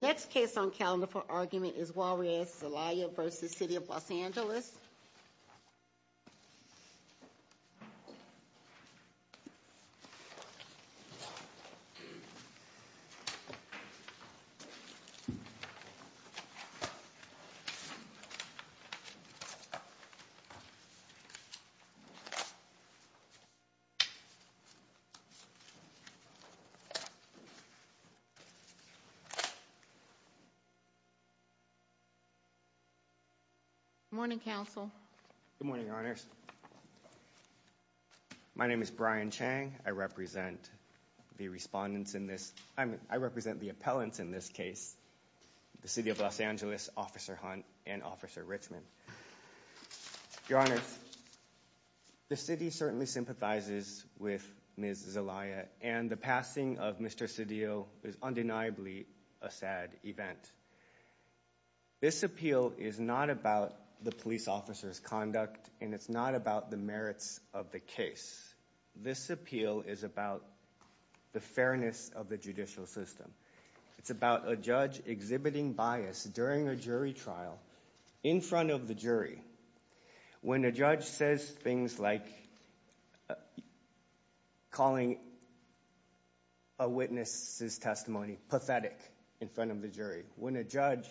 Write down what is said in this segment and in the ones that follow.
Next case on calendar for argument is Juarez Zelaya v. City of Los Angeles. Good morning, Council. Good morning, Your Honors. My name is Brian Chang. I represent the respondents in this, I mean, I represent the appellants in this case, the City of Los Angeles, Officer Hunt and Officer Richmond. Your Honors, the City certainly sympathizes with Ms. Zelaya and the passing of Mr. Cedillo is undeniably a sad event. This appeal is not about the police officer's conduct and it's not about the merits of the case. This appeal is about the fairness of the judicial system. It's about a judge exhibiting bias during a jury trial in front of the jury. When a judge says things like calling a witness's testimony pathetic in front of the jury, when a judge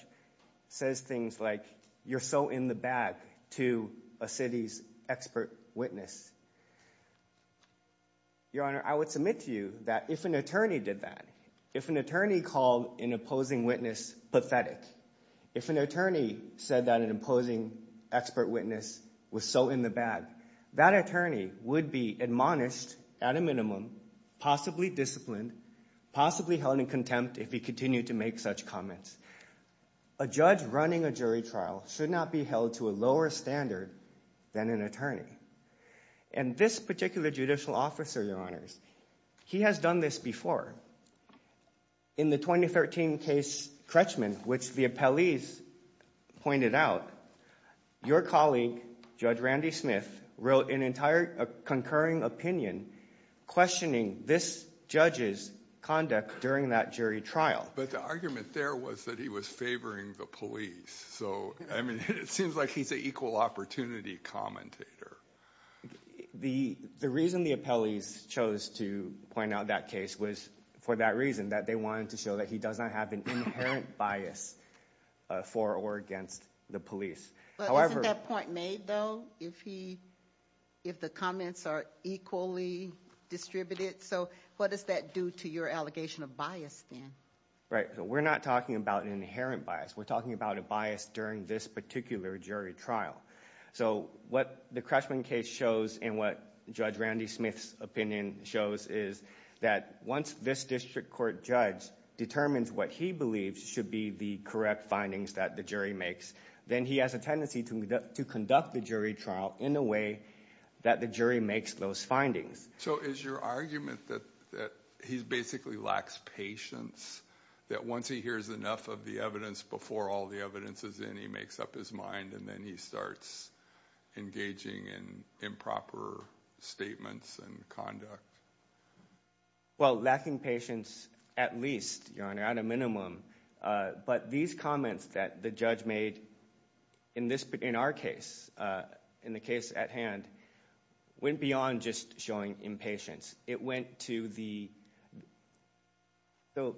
says things like you're so in the bag to a city's expert witness, Your Honor, I would submit to you that if an attorney did that, if an attorney called an opposing witness pathetic, if an attorney said that an opposing expert witness was so in the bag, that attorney would be admonished at a minimum, possibly disciplined, possibly held in contempt if he continued to make such comments. A judge running a jury trial should not be held to a lower standard than an attorney. And this particular judicial officer, Your Honors, he has done this before. In the 2013 case, Kretschman, which the appellees pointed out, your colleague, Judge Randy Smith, wrote an entire concurring opinion questioning this judge's conduct during that jury trial. But the argument there was that he was favoring the police. So, I mean, it seems like he's an equal opportunity commentator. The reason the appellees chose to point out that case was for that reason, that they wanted to show that he does not have an inherent bias for or against the police. But isn't that point made, though, if the comments are equally distributed? So, what does that do to your allegation of bias, then? Right. So, we're not talking about an inherent bias. We're talking about a bias during this particular jury trial. So, what the Kretschman case shows and what Judge Randy Smith's opinion shows is that once this district court judge determines what he believes should be the correct findings that the jury makes, then he has a tendency to conduct the jury trial in a way that the jury makes those findings. So, is your argument that he basically lacks patience, that once he hears enough of the evidence before all the evidence is in, he makes up his mind and then he starts engaging in improper statements and conduct? Well, lacking patience, at least, Your Honor, at a minimum. But these comments that the judge made in our case, in the case at hand, went beyond just showing impatience. It went to the... So,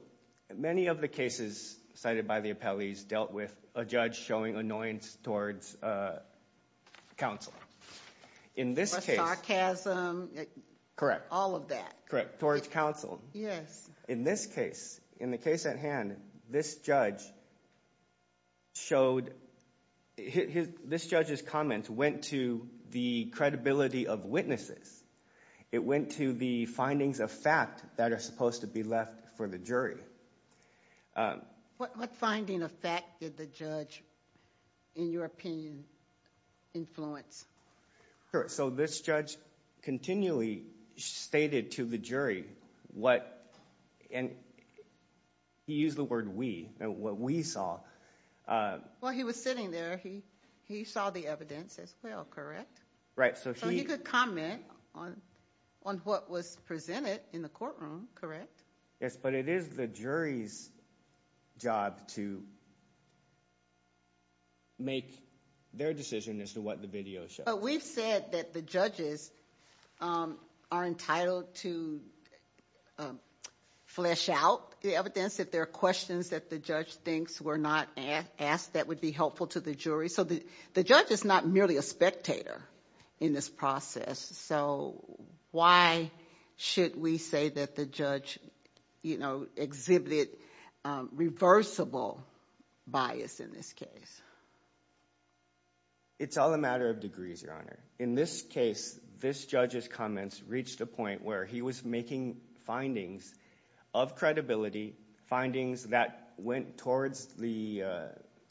many of the cases cited by the appellees dealt with a judge showing annoyance towards counsel. In this case... Or sarcasm. Correct. All of that. Correct. Towards counsel. Yes. In this case, in the case at hand, this judge showed... This judge's comments went to the credibility of witnesses. It went to the findings of fact that are supposed to be left for the jury. What finding of fact did the judge, in your opinion, influence? So, this judge continually stated to the jury what... And he used the word we, what we saw. Well, he was sitting there. He saw the evidence as well, correct? Right. So, he... So, he could comment on what was presented in the courtroom, correct? Yes, but it is the jury's job to make their decision as to what the video shows. But we've said that the judges are entitled to flesh out the evidence, if there are questions that the judge thinks were not asked, that would be helpful to the jury. So, the judge is not merely a spectator in this process. So, why should we say that the judge exhibited reversible bias in this case? It's all a matter of degrees, Your Honor. In this case, this judge's comments reached a point where he was making findings of credibility, findings that went towards the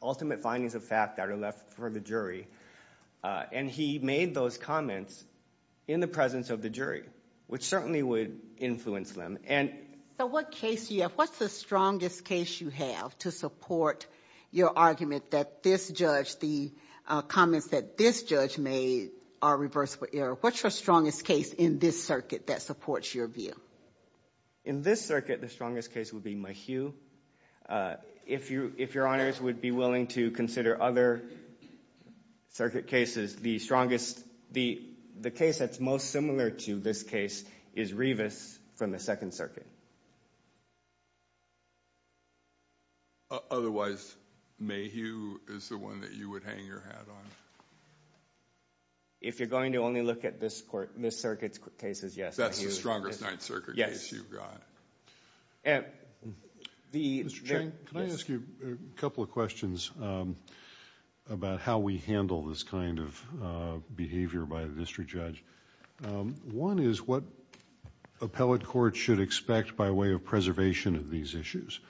ultimate findings of fact that are left for the jury. And he made those comments in the presence of the jury, which certainly would influence them. And... So, what case do you have? What's the strongest case you have to support your argument that this judge, the comments that this judge made are reversible error? What's your strongest case in this circuit that supports your view? In this circuit, the strongest case would be Mayhew. If Your Honors would be willing to consider other circuit cases, the strongest, the case that's most similar to this case is Revis from the Second Circuit. Otherwise, Mayhew is the one that you would hang your hat on? If you're going to only look at this circuit's cases, yes. That's the strongest Ninth Circuit case you've got? Mr. Chang, can I ask you a couple of questions about how we handle this kind of behavior by the district judge? One is what appellate courts should expect by way of preservation of these issues?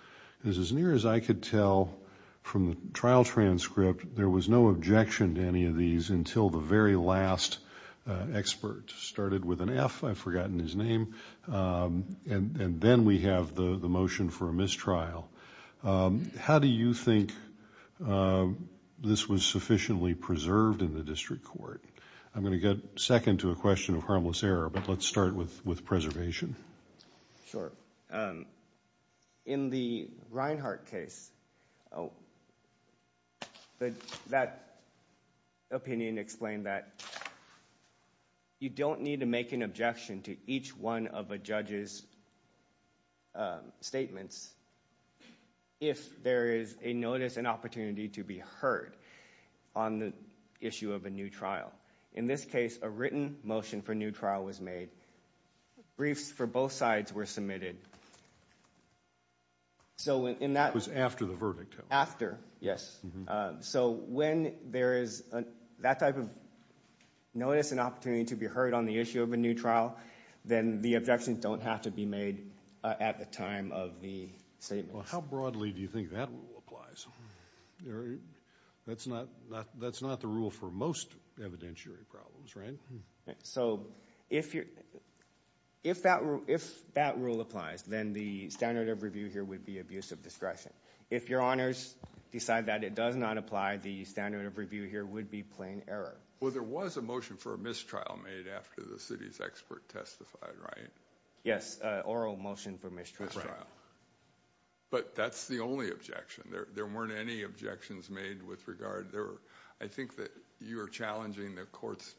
Because as near as I could tell from the trial transcript, there was no objection to any of these until the very last expert started with an F. I've forgotten his name. And then we have the motion for a mistrial. How do you think this was sufficiently preserved in the district court? I'm going to get second to a question of harmless error, but let's start with preservation. Sure. In the Reinhart case, that opinion explained that you don't need to make an objection to each one of a judge's statements if there is a notice, an opportunity to be heard on the issue of a new trial. In this case, a written motion for a new trial was made. Briefs for both sides were submitted. It was after the verdict? After, yes. So when there is that type of notice and opportunity to be heard on the issue of a new trial, then the objections don't have to be made at the time of the statements. Well, how broadly do you think that rule applies? That's not the rule for most evidentiary problems, right? So if that rule applies, then the standard of review here would be abuse of discretion. If your honors decide that it does not apply, the standard of review here would be plain error. Well, there was a motion for a mistrial made after the city's expert testified, right? Yes, oral motion for mistrial. But that's the only objection. There weren't any objections made with regard. I think that you're challenging the court's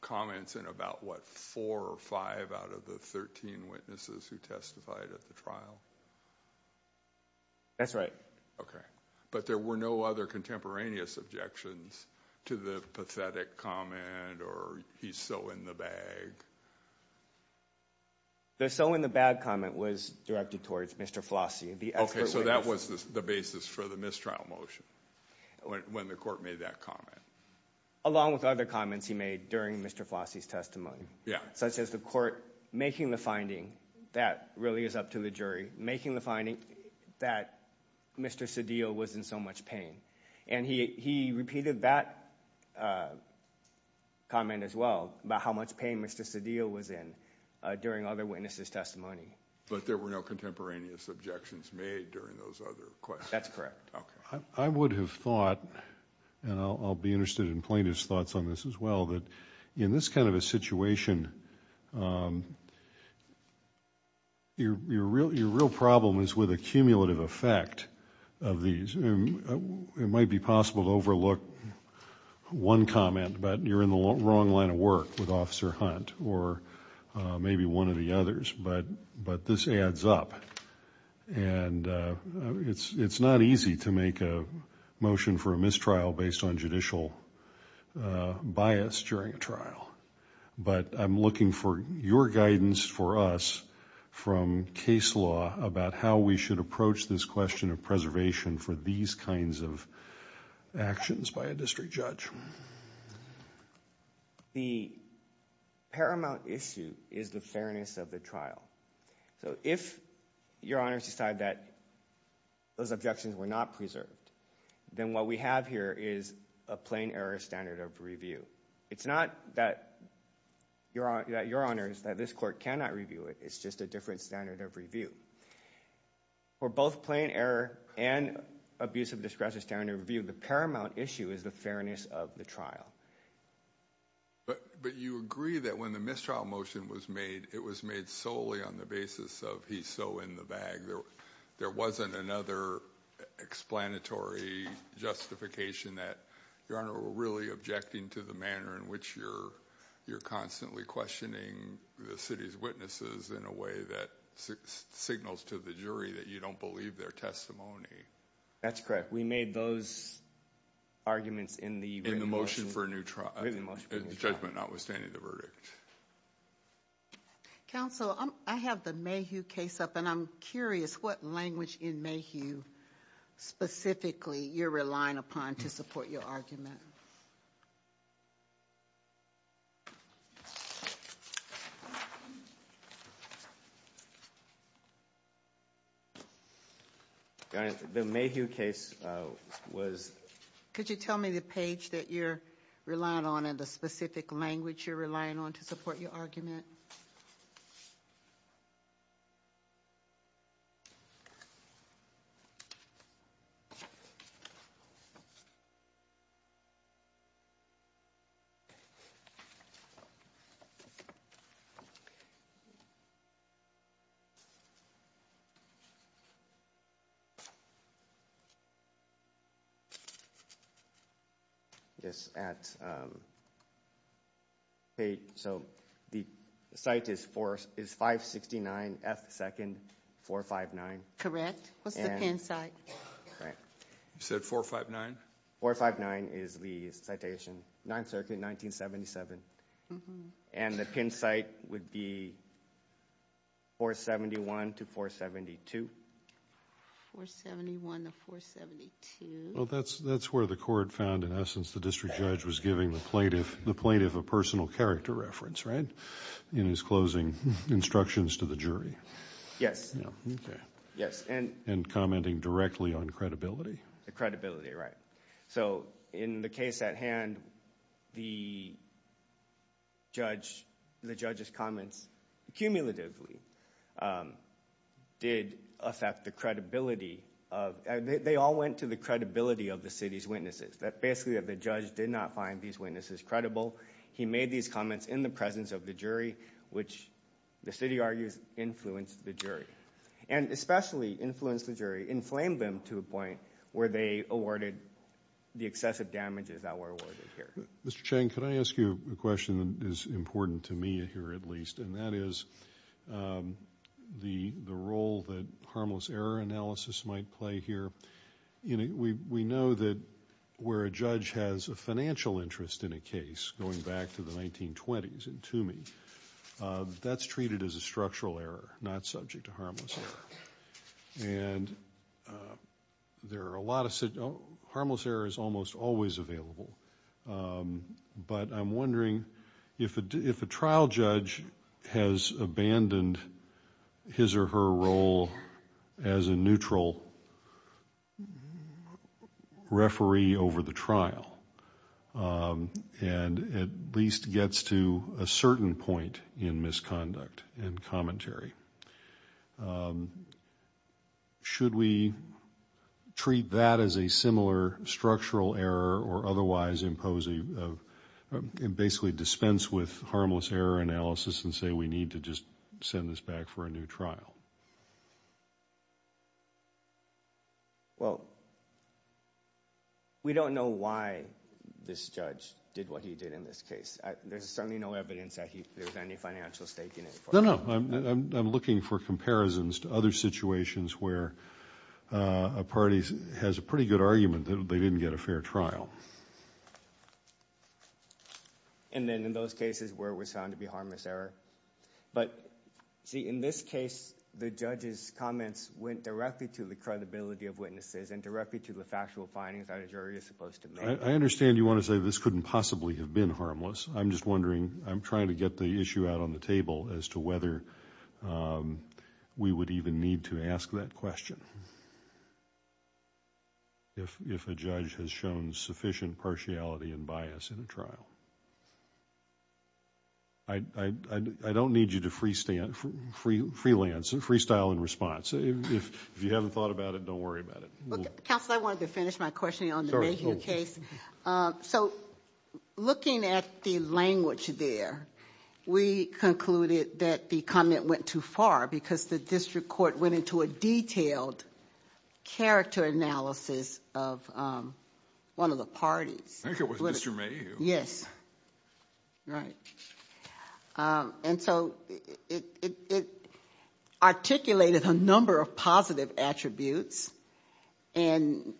comments in about what, four or five out of the 13 witnesses who testified at the trial? That's right. Okay. But there were no other contemporaneous objections to the pathetic comment or he's so in the bag? The so in the bag comment was directed towards Mr. Flossie. Okay, so that was the basis for the mistrial motion when the court made that comment. Along with other comments he made during Mr. Flossie's testimony. Yeah. Such as the court making the finding, that really is up to the jury, making the finding that Mr. Cedillo was in so much pain. And he repeated that comment as well about how much pain Mr. Cedillo was in during other witnesses' testimony. But there were no contemporaneous objections made during those other questions? That's correct. Okay. I would have thought, and I'll be interested in plaintiff's thoughts on this as well, that in this kind of a situation, your real problem is with a cumulative effect of these. It might be possible to overlook one comment, but you're in the wrong line of work with Officer Hunt or maybe one of the others. But this adds up. And it's not easy to make a motion for a mistrial based on judicial bias during a trial. But I'm looking for your guidance for us from case law about how we should approach this question of preservation for these kinds of actions by a is the fairness of the trial. So if your honors decide that those objections were not preserved, then what we have here is a plain error standard of review. It's not that your honors, that this court cannot review it. It's just a different standard of review. For both plain error and abuse of discretion standard review, the paramount issue is the fairness of the trial. But you agree that when the mistrial motion was made, it was made solely on the basis of he's so in the bag. There wasn't another explanatory justification that your honor were really objecting to the manner in which you're constantly questioning the city's witnesses in a way that signals to the jury that you don't believe their testimony. That's correct. We made those arguments in the motion for a new trial judgment, notwithstanding the verdict. Counsel, I have the Mayhew case up and I'm curious what language in Mayhew specifically you're relying upon to support your argument. The Mayhew case was, could you tell me the page that you're relying on and the specific language you're relying on to support your argument? Okay. Yes, at 459, so the site is 569 F 2nd, 459. Correct. What's the pen site? You said 459? 459 is the citation, 9th circuit, 1977. And the pen site would be 471 to 472. 471 to 472. That's where the court found in essence the district judge was giving the plaintiff a personal character reference, right? In his closing instructions to the jury. Yes. And commenting directly on credibility. The credibility, right. So in the case at hand, the judge's comments cumulatively did affect the credibility of, they all went to the credibility of the city's witnesses. That basically the judge did not find these witnesses credible. He made these comments in the presence of the jury, which the city argues influenced the jury. And especially influenced the jury, inflamed them to a point where they awarded the excessive damages that were awarded here. Mr. Cheng, can I ask you a question that is important to me here at least? And that is the role that harmless error analysis might play here. We know that where a judge has a financial interest in a case, going back to the 1920s in Toomey, that's treated as a structural error, not subject to harmless error. And there are a lot of, harmless error is almost always available. But I'm wondering if a trial judge has abandoned his or her role as a neutral referee over the trial, and at least gets to a certain point in misconduct and commentary. Should we treat that as a similar structural error, or otherwise impose a, basically dispense with harmless error analysis and say we need to just send this back for a new trial? Well, we don't know why this judge did what he did in this case. There's certainly no evidence that there's any financial stake in it. I'm looking for comparisons to other situations where a party has a pretty good argument that they didn't get a fair trial. And then in those cases where it was found to be harmless error. But see, in this case, the judge's comments went directly to the credibility of witnesses and directly to the factual findings that a jury is supposed to make. I understand you want to say this couldn't possibly have been harmless. I'm just wondering, I'm trying to get the issue out on the table as to whether we would even need to ask that question. If a judge has shown sufficient partiality and bias in a trial. I don't need you to freestand, freelance, freestyle in response. If you haven't thought about it, don't worry about it. Look, counsel, I wanted to finish my questioning on the Mayhew case. So looking at the language there, we concluded that the comment went too far because the district court went into a detailed character analysis of one of the parties. I think it was Mr. Mayhew. Yes, right. And so it articulated a number of positive attributes. And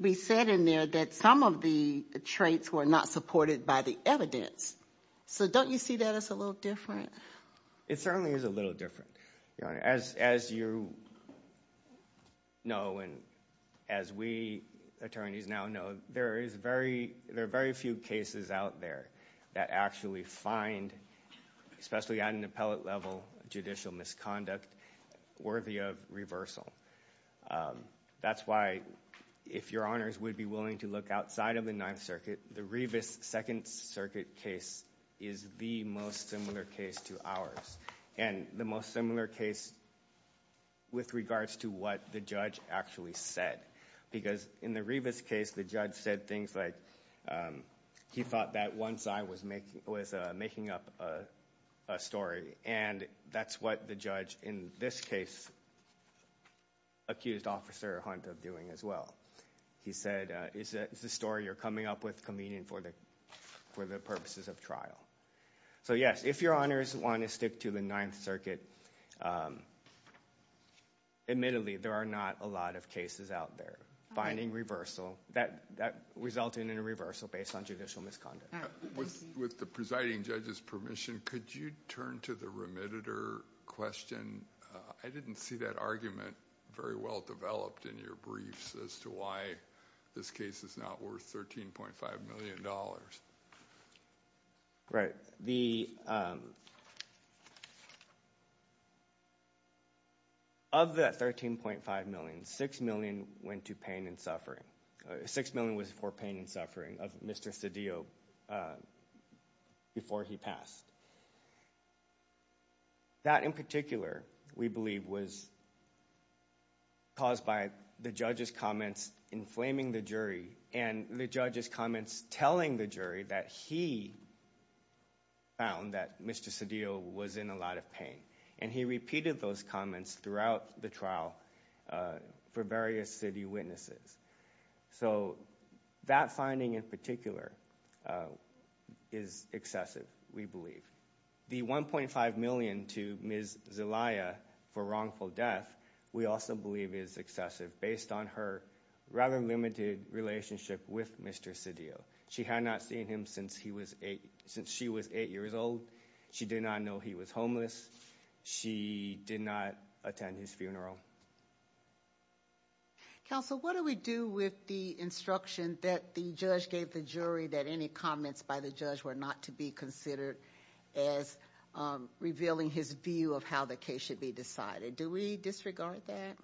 we said in there that some of the traits were not supported by the evidence. So don't you see that as a little different? It certainly is a little different, Your Honor. As you know, and as we attorneys now know, there are very few cases out there that actually find, especially at an appellate level, judicial misconduct worthy of reversal. That's why, if Your Honors would be willing to look outside of the Ninth Circuit, the Revis Second Circuit case is the most similar case to ours. And the most similar case with regards to what the judge actually said. Because in the Revis case, the judge said things like, he thought that one side was making up a story. And that's what the judge in this case accused Officer Hunt of doing as well. He said, it's a story you're coming up with convenient for the purposes of trial. So yes, if Your Honors want to stick to the Ninth Circuit, admittedly, there are not a lot of cases out there finding reversal that result in a reversal based on judicial misconduct. With the presiding judge's permission, could you turn to the remediator question? I didn't see that argument very well developed in your briefs as to why this case is not worth $13.5 million. Right. Of that $13.5 million, $6 million went to pain and suffering. $6 million was for pain and suffering. Of Mr. Cedillo before he passed. That in particular, we believe, was caused by the judge's comments inflaming the jury. And the judge's comments telling the jury that he found that Mr. Cedillo was in a lot of pain. And he repeated those comments throughout the trial for various city witnesses. So that finding in particular is excessive, we believe. The $1.5 million to Ms. Zelaya for wrongful death, we also believe is excessive based on her rather limited relationship with Mr. Cedillo. She had not seen him since she was eight years old. She did not know he was homeless. She did not attend his funeral. Counsel, what do we do with the instruction that the judge gave the jury that any comments by the judge were not to be considered as revealing his view of how the case should be decided? Do we disregard that?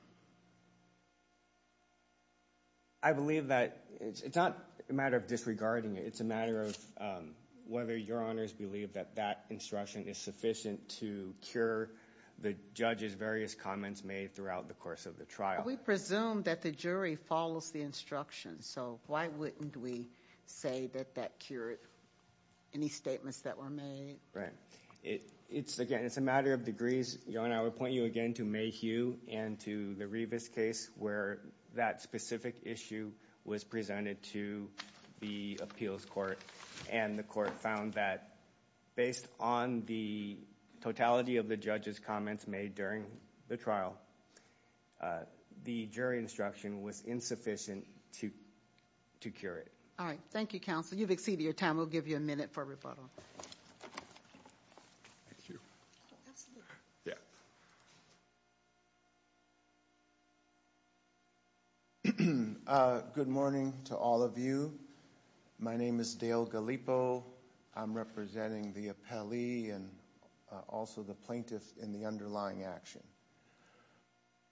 I believe that it's not a matter of disregarding it. It's a matter of whether your honors believe that that instruction is sufficient to cure the judge's various comments made throughout the course of the trial. We presume that the jury follows the instruction. So why wouldn't we say that that cured any statements that were made? Right. It's again, it's a matter of degrees. Your honor, I would point you again to Mayhew and to the Rivas case where that specific issue was presented to the appeals court. And the court found that based on the totality of the judge's comments made during the trial, the jury instruction was insufficient to cure it. All right. Thank you, counsel. You've exceeded your time. We'll give you a minute for rebuttal. Thank you. Yeah. Good morning to all of you. My name is Dale Gallipo. I'm representing the appellee and also the plaintiff in the underlying action.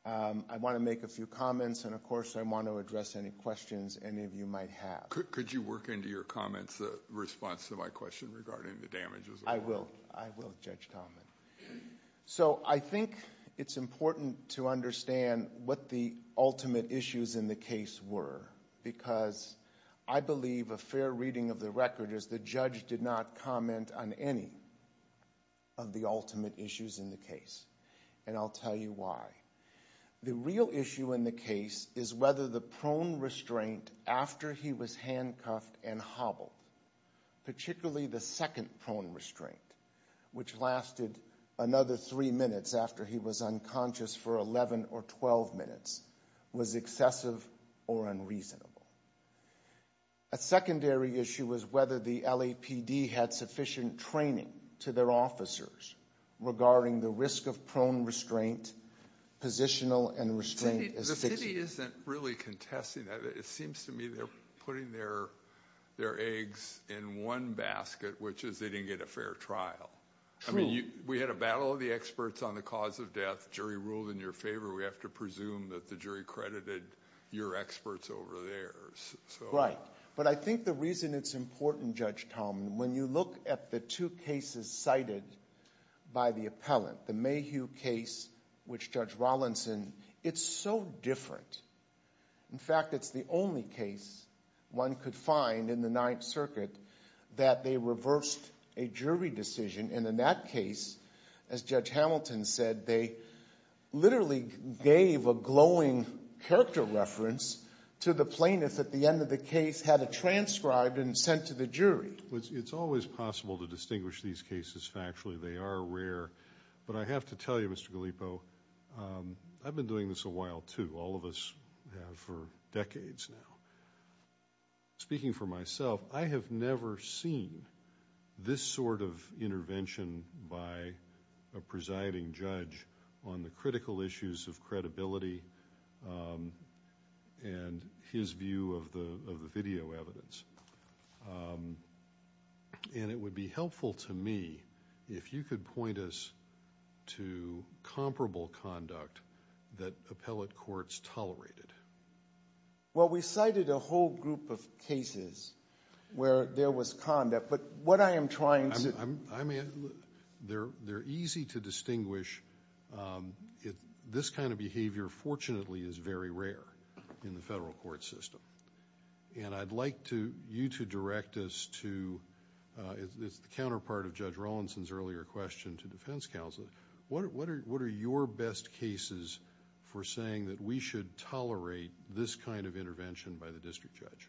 I want to make a few comments. And of course, I want to address any questions any of you might have. Could you work into your comments, the response to my question regarding the damages? I will. I will, Judge Common. So I think it's important to understand what the ultimate issues in the case were. Because I believe a fair reading of the record is the judge did not comment on any of the ultimate issues in the case. And I'll tell you why. The real issue in the case is whether the prone restraint after he was handcuffed and hobbled, particularly the second prone restraint, which lasted another three minutes after he was unconscious for 11 or 12 minutes, was excessive or unreasonable. A secondary issue was whether the LAPD had sufficient training to their officers regarding the risk of prone restraint, positional and restraint. The city isn't really contesting that. It seems to me they're putting their eggs in one basket, which is they didn't get a fair trial. I mean, we had a battle of the experts on the cause of death. Jury ruled in your favor. We have to presume that the jury credited your experts over theirs. But I think the reason it's important, Judge Common, when you look at the two cases cited by the appellant, the Mayhew case, which Judge Rollinson, it's so different. In fact, it's the only case one could find in the Ninth Circuit that they reversed a jury decision. And in that case, as Judge Hamilton said, they literally gave a glowing character reference to the plaintiff at the end of the case, had it transcribed and sent to the jury. It's always possible to distinguish these cases factually. They are rare. But I have to tell you, Mr. Gallipo, I've been doing this a while, too. All of us have for decades now. Speaking for myself, I have never seen this sort of intervention by a presiding judge on the critical issues of credibility and his view of the video evidence. And it would be helpful to me if you could point us to comparable conduct that appellate courts tolerated. Well, we cited a whole group of cases where there was conduct. But what I am trying to... I mean, they're easy to distinguish. This kind of behavior, fortunately, is very rare in the federal court system. And I'd like you to direct us to, as the counterpart of Judge Rollinson's earlier question to defense counsel, what are your best cases for saying that we should tolerate this kind of intervention by the district judge?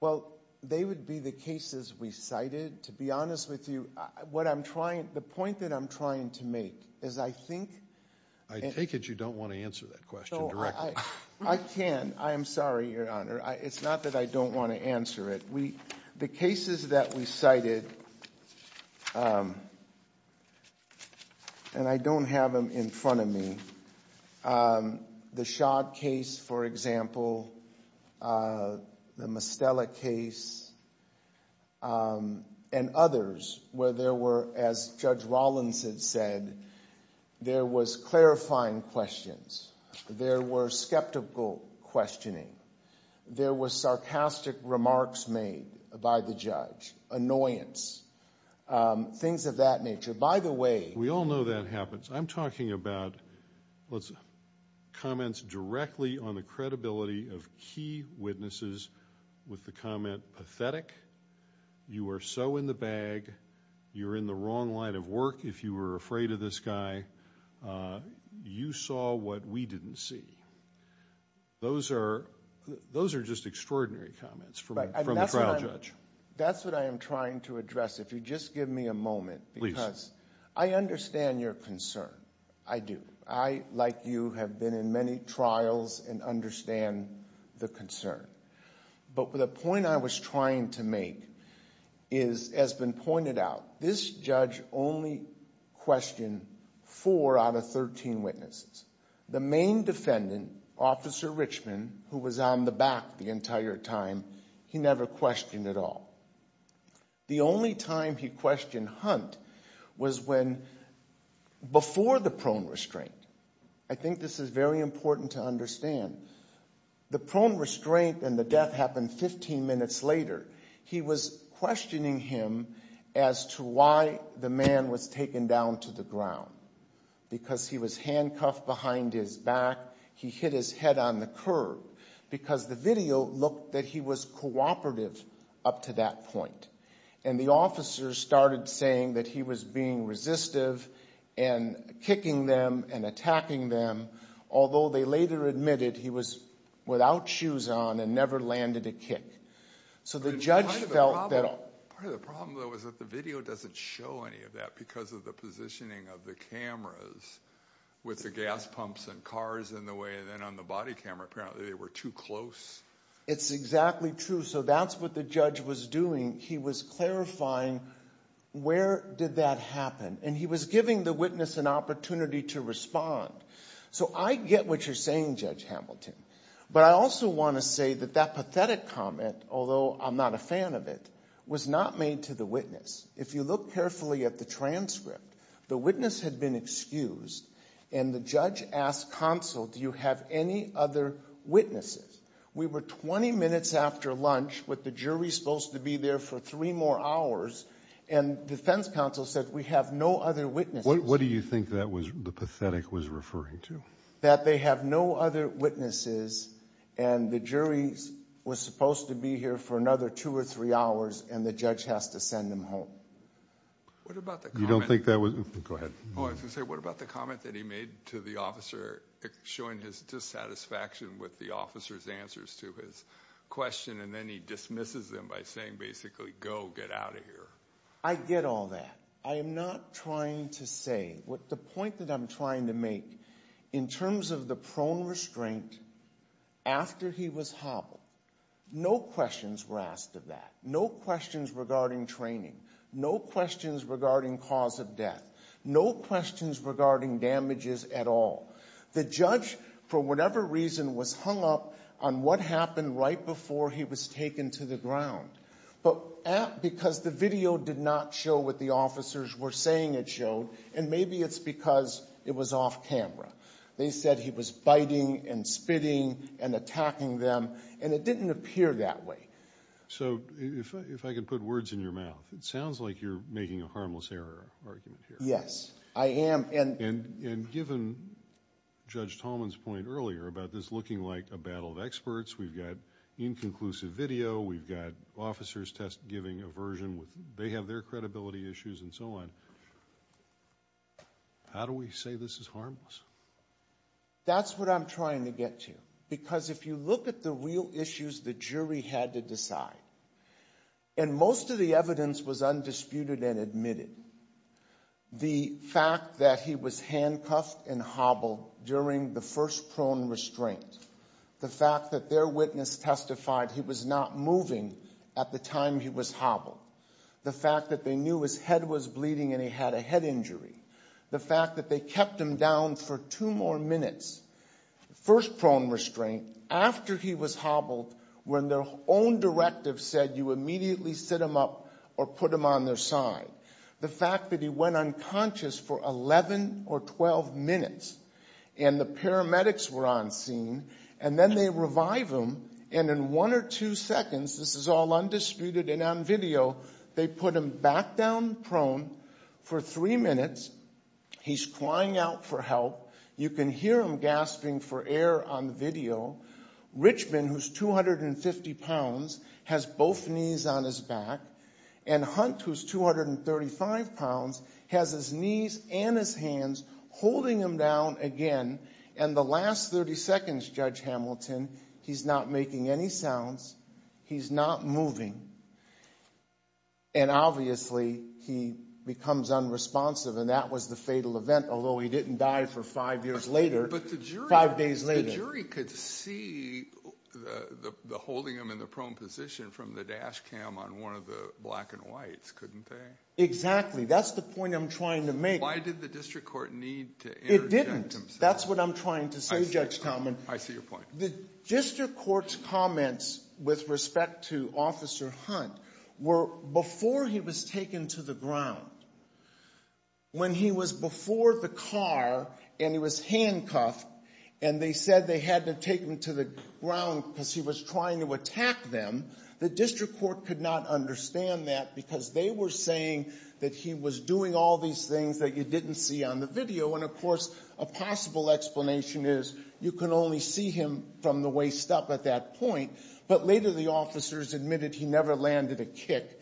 Well, they would be the cases we cited. To be honest with you, the point that I'm trying to make is I think... I take it you don't want to answer that question directly. I can. I am sorry, Your Honor. It's not that I don't want to answer it. The cases that we cited, and I don't have them in front of me, the Schott case, for example, the Mostella case, and others where there were, as Judge Rollinson said, there was clarifying questions. There were skeptical questioning. There were sarcastic remarks made by the judge. Annoyance. Things of that nature. By the way... We all know that happens. I'm talking about comments directly on the credibility of key witnesses with the comment, pathetic. You are so in the bag. You're in the wrong line of work if you were afraid of this guy. You saw what we didn't see. Those are just extraordinary comments from the trial judge. That's what I am trying to address. If you just give me a moment, because I understand your concern. I do. I, like you, have been in many trials and understand the concern. But the point I was trying to make is, as has been pointed out, this judge only questioned four out of 13 witnesses. The main defendant, Officer Richman, who was on the back the entire time, he never questioned at all. The only time he questioned Hunt was before the prone restraint. I think this is very important to understand. The prone restraint and the death happened 15 minutes later. He was questioning him as to why the man was taken down to the ground. Because he was handcuffed behind his back. He hit his head on the curb. Because the video looked that he was cooperative up to that point. And the officers started saying that he was being resistive and kicking them and attacking them, although they later admitted he was without shoes on and never landed a kick. So the judge felt that... Part of the problem, though, was that the video doesn't show any of that because of the positioning of the cameras with the gas pumps and cars in the way. And then on the body camera, apparently they were too close. It's exactly true. So that's what the judge was doing. He was clarifying where did that happen. And he was giving the witness an opportunity to respond. So I get what you're saying, Judge Hamilton. But I also want to say that that pathetic comment, although I'm not a fan of it, was not made to the witness. If you look carefully at the transcript, the witness had been excused and the judge asked counsel, do you have any other witnesses? We were 20 minutes after lunch with the jury supposed to be there for three more hours. And defense counsel said, we have no other witnesses. What do you think that was the pathetic was referring to? That they have no other witnesses. And the jury was supposed to be here for another two or three hours. And the judge has to send them home. You don't think that was? Go ahead. Oh, I was going to say, what about the comment that he made to the officer showing his dissatisfaction with the officer's answers to his question? And then he dismisses them by saying, basically, go, get out of here. I get all that. I am not trying to say what the point that I'm trying to make in terms of the prone restraint after he was hobbled. No questions were asked of that. No questions regarding training. No questions regarding cause of death. No questions regarding damages at all. The judge, for whatever reason, was hung up on what happened right before he was taken to the ground. But because the video did not show what the officers were saying it showed. And maybe it's because it was off camera. They said he was biting and spitting and attacking them. And it didn't appear that way. So if I could put words in your mouth. It sounds like you're making a harmless error argument here. Yes, I am. And given Judge Tallman's point earlier about this looking like a battle of experts. We've got inconclusive video. We've got officers test giving aversion. They have their credibility issues and so on. How do we say this is harmless? That's what I'm trying to get to. Because if you look at the real issues the jury had to decide. And most of the evidence was undisputed and admitted. The fact that he was handcuffed and hobbled during the first prone restraint. The fact that their witness testified he was not moving at the time he was hobbled. The fact that they knew his head was bleeding and he had a head injury. The fact that they kept him down for two more minutes. First prone restraint after he was hobbled. When their own directive said you immediately sit him up or put him on their side. The fact that he went unconscious for 11 or 12 minutes. And the paramedics were on scene. And then they revive him and in one or two seconds. This is all undisputed and on video. They put him back down prone for three minutes. He's crying out for help. You can hear him gasping for air on video. Richmond, who's 250 pounds, has both knees on his back. And Hunt, who's 235 pounds, has his knees and his hands holding him down again. And the last 30 seconds, Judge Hamilton, he's not making any sounds. He's not moving. And obviously he becomes unresponsive. And that was the fatal event. Although he didn't die for five years later. But the jury. Five days later. The jury could see the holding him in the prone position from the dash cam on one of the black and whites, couldn't they? Exactly. That's the point I'm trying to make. Why did the district court need to interject himself? That's what I'm trying to say, Judge Talman. I see your point. The district court's comments with respect to Officer Hunt were before he was taken to the ground. When he was before the car and he was handcuffed and they said they had to take him to the ground because he was trying to attack them, the district court could not understand that because they were saying that he was doing all these things that you didn't see on the video. And of course, a possible explanation is you can only see him from the waist up at that point. But later the officers admitted he never landed a kick.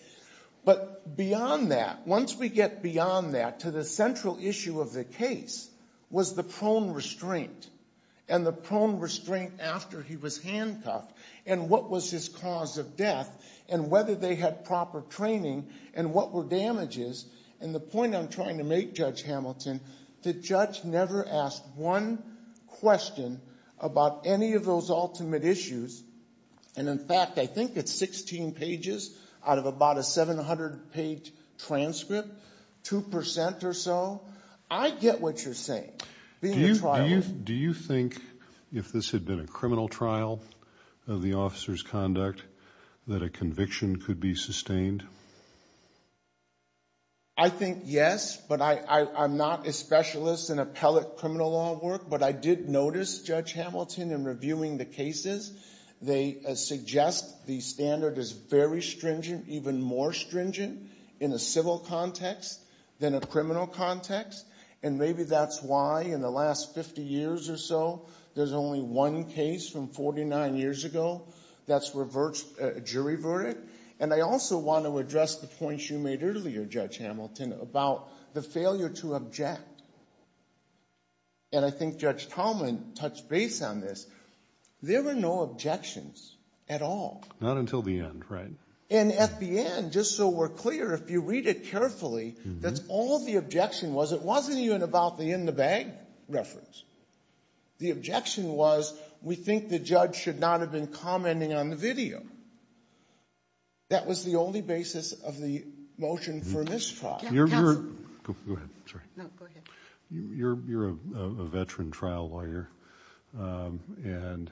But beyond that, once we get beyond that to the central issue of the case was the prone restraint. And the prone restraint after he was handcuffed. And what was his cause of death. And whether they had proper training. And what were damages. And the point I'm trying to make, Judge Hamilton, the judge never asked one question about any of those ultimate issues. And in fact, I think it's 16 pages out of about a 700 page transcript, 2% or so. I get what you're saying. Do you think if this had been a criminal trial of the officer's conduct that a conviction could be sustained? I think yes. But I'm not a specialist in appellate criminal law work. But I did notice, Judge Hamilton, in reviewing the cases, they suggest the standard is very stringent. Even more stringent in a civil context than a criminal context. And maybe that's why in the last 50 years or so there's only one case from 49 years ago that's jury verdict. And I also want to address the points you made earlier, Judge Hamilton, about the failure to object. And I think Judge Tallman touched base on this. There were no objections at all. Not until the end, right? And at the end, just so we're clear, if you read it carefully, that's all the objection was. It wasn't even about the in the bag reference. The objection was, we think the judge should not have been commenting on the video. That was the only basis of the motion for mistrial. You're a veteran trial lawyer. And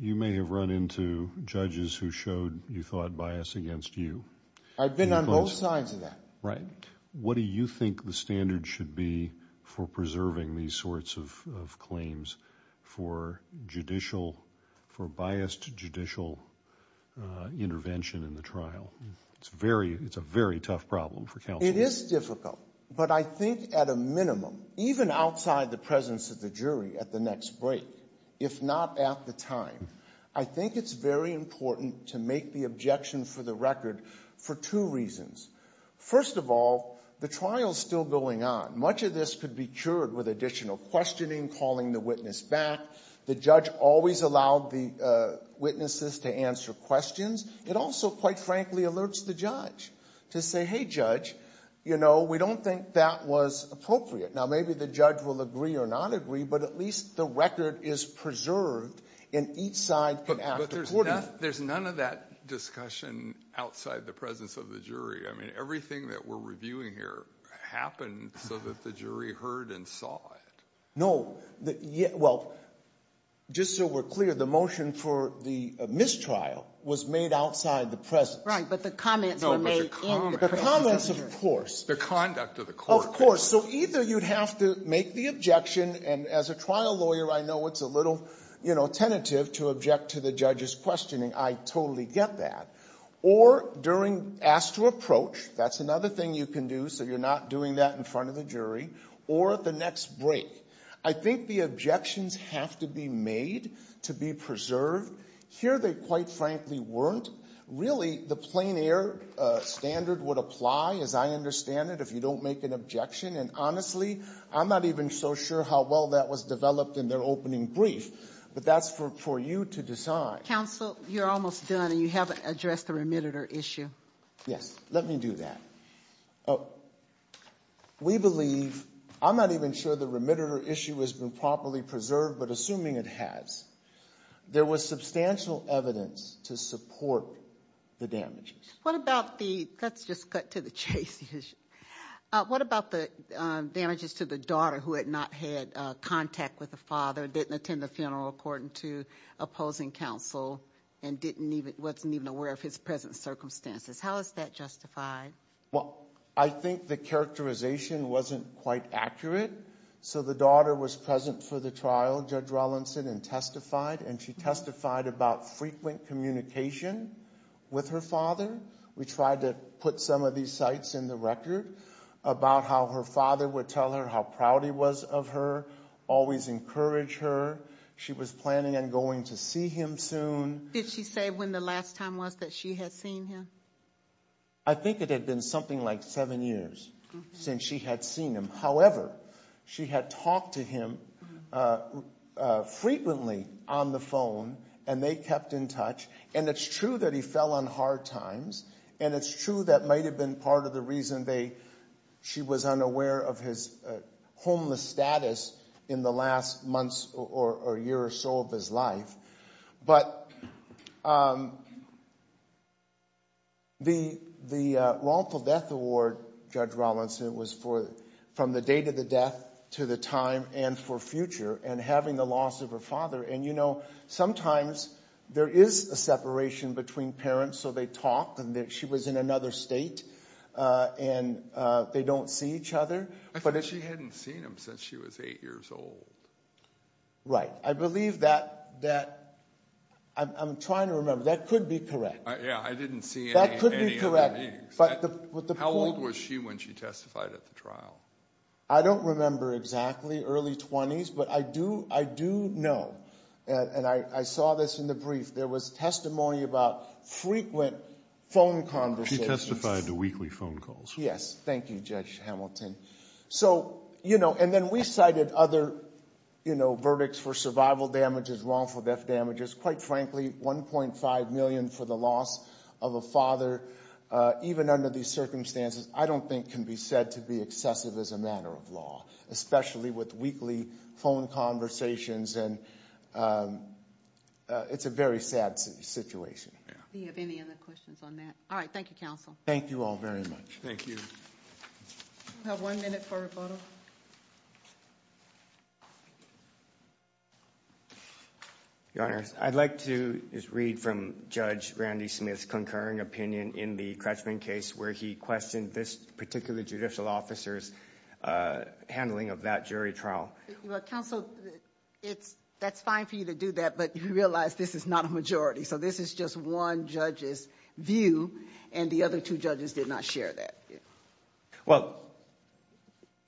you may have run into judges who showed, you thought, bias against you. I've been on both sides of that. Right. What do you think the standard should be for preserving these sorts of claims for judicial, for biased judicial intervention in the trial? It's a very tough problem for counsel. It is difficult. But I think at a minimum, even outside the presence of the jury at the next break, if not at the time, I think it's very important to make the objection for the record for two reasons. First of all, the trial's still going on. Much of this could be cured with additional questioning, calling the witness back. The judge always allowed the witnesses to answer questions. It also, quite frankly, alerts the judge to say, hey, judge, you know, we don't think that was appropriate. Now, maybe the judge will agree or not agree, but at least the record is preserved in each side. There's none of that discussion outside the presence of the jury. I mean, everything that we're reviewing here happened so that the jury heard and saw it. Well, just so we're clear, the motion for the mistrial was made outside the presence. Right. But the comments were made in the presence of the jury. The comments, of course. The conduct of the court. Of course. So either you'd have to make the objection, and as a trial lawyer, I know it's a little, you know, tentative to object to the judge's questioning. I totally get that. Or during ask to approach, that's another thing you can do so you're not doing that in front of the jury. Or at the next break, I think the objections have to be made to be preserved. Here, they quite frankly weren't. Really, the plain air standard would apply, as I understand it, if you don't make an objection. And honestly, I'm not even so sure how well that was developed in their opening brief. But that's for you to decide. Counsel, you're almost done, and you haven't addressed the remitted or issue. Yes. Let me do that. Oh. We believe, I'm not even sure the remitted or issue has been properly preserved, but assuming it has, there was substantial evidence to support the damages. What about the, let's just cut to the chase issue. What about the damages to the daughter who had not had contact with the father, didn't attend the funeral according to opposing counsel, and wasn't even aware of his present circumstances? How is that justified? Well, I think the characterization wasn't quite accurate. So the daughter was present for the trial, Judge Rollinson, and testified. And she testified about frequent communication with her father. We tried to put some of these sites in the record about how her father would tell her how proud he was of her, always encourage her. She was planning on going to see him soon. Did she say when the last time was that she had seen him? I think it had been something like seven years since she had seen him. However, she had talked to him frequently on the phone, and they kept in touch. And it's true that he fell on hard times. And it's true that might have been part of the reason they, she was unaware of his homeless status in the last months or year or so of his life. But the wrongful death award, Judge Rollinson, was for from the date of the death to the time and for future, and having the loss of her father. And you know, sometimes there is a separation between parents. So they talk, and she was in another state, and they don't see each other. I thought she hadn't seen him since she was eight years old. Right, I believe that, I'm trying to remember, that could be correct. Yeah, I didn't see any other names. But the point- How old was she when she testified at the trial? I don't remember exactly, early 20s. But I do know, and I saw this in the brief, there was testimony about frequent phone conversations. She testified to weekly phone calls. Yes, thank you, Judge Hamilton. So, you know, and then we cited other, you know, verdicts for survival damages, wrongful death damages. Quite frankly, $1.5 million for the loss of a father, even under these circumstances, I don't think can be said to be excessive as a matter of law, especially with weekly phone conversations. And it's a very sad situation. Do you have any other questions on that? All right, thank you, counsel. Thank you all very much. Thank you. We have one minute for rebuttal. Your Honor, I'd like to just read from Judge Randy Smith's concurring opinion in the Cratchman case where he questioned this particular judicial officer's handling of that jury trial. Well, counsel, that's fine for you to do that, but you realize this is not a majority. So this is just one judge's view, and the other two judges did not share that. Well,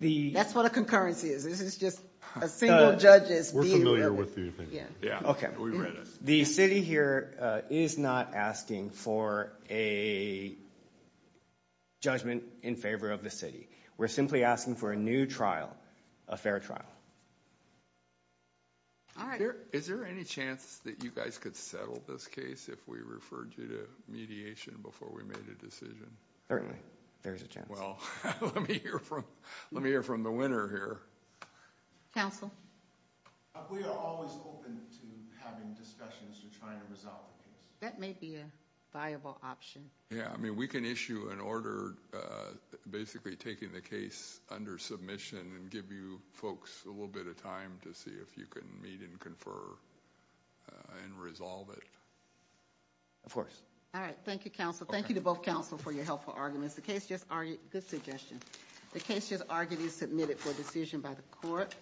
the... That's what a concurrency is. This is just a single judge's view. We're familiar with you. Yeah. Okay. We read it. The city here is not asking for a judgment in favor of the city. We're simply asking for a new trial, a fair trial. All right. Is there any chance that you guys could settle this case if we referred you to mediation before we made a decision? Certainly, there's a chance. Well, let me hear from the winner here. Counsel? We are always open to having discussions to try and resolve the case. That may be a viable option. Yeah. I mean, we can issue an order basically taking the case under submission and give you folks a little bit of time to see if you can meet and confer and resolve it. Of course. All right. Thank you, counsel. Thank you to both counsel for your helpful arguments. Good suggestion. The case just argued is submitted for decision by the court.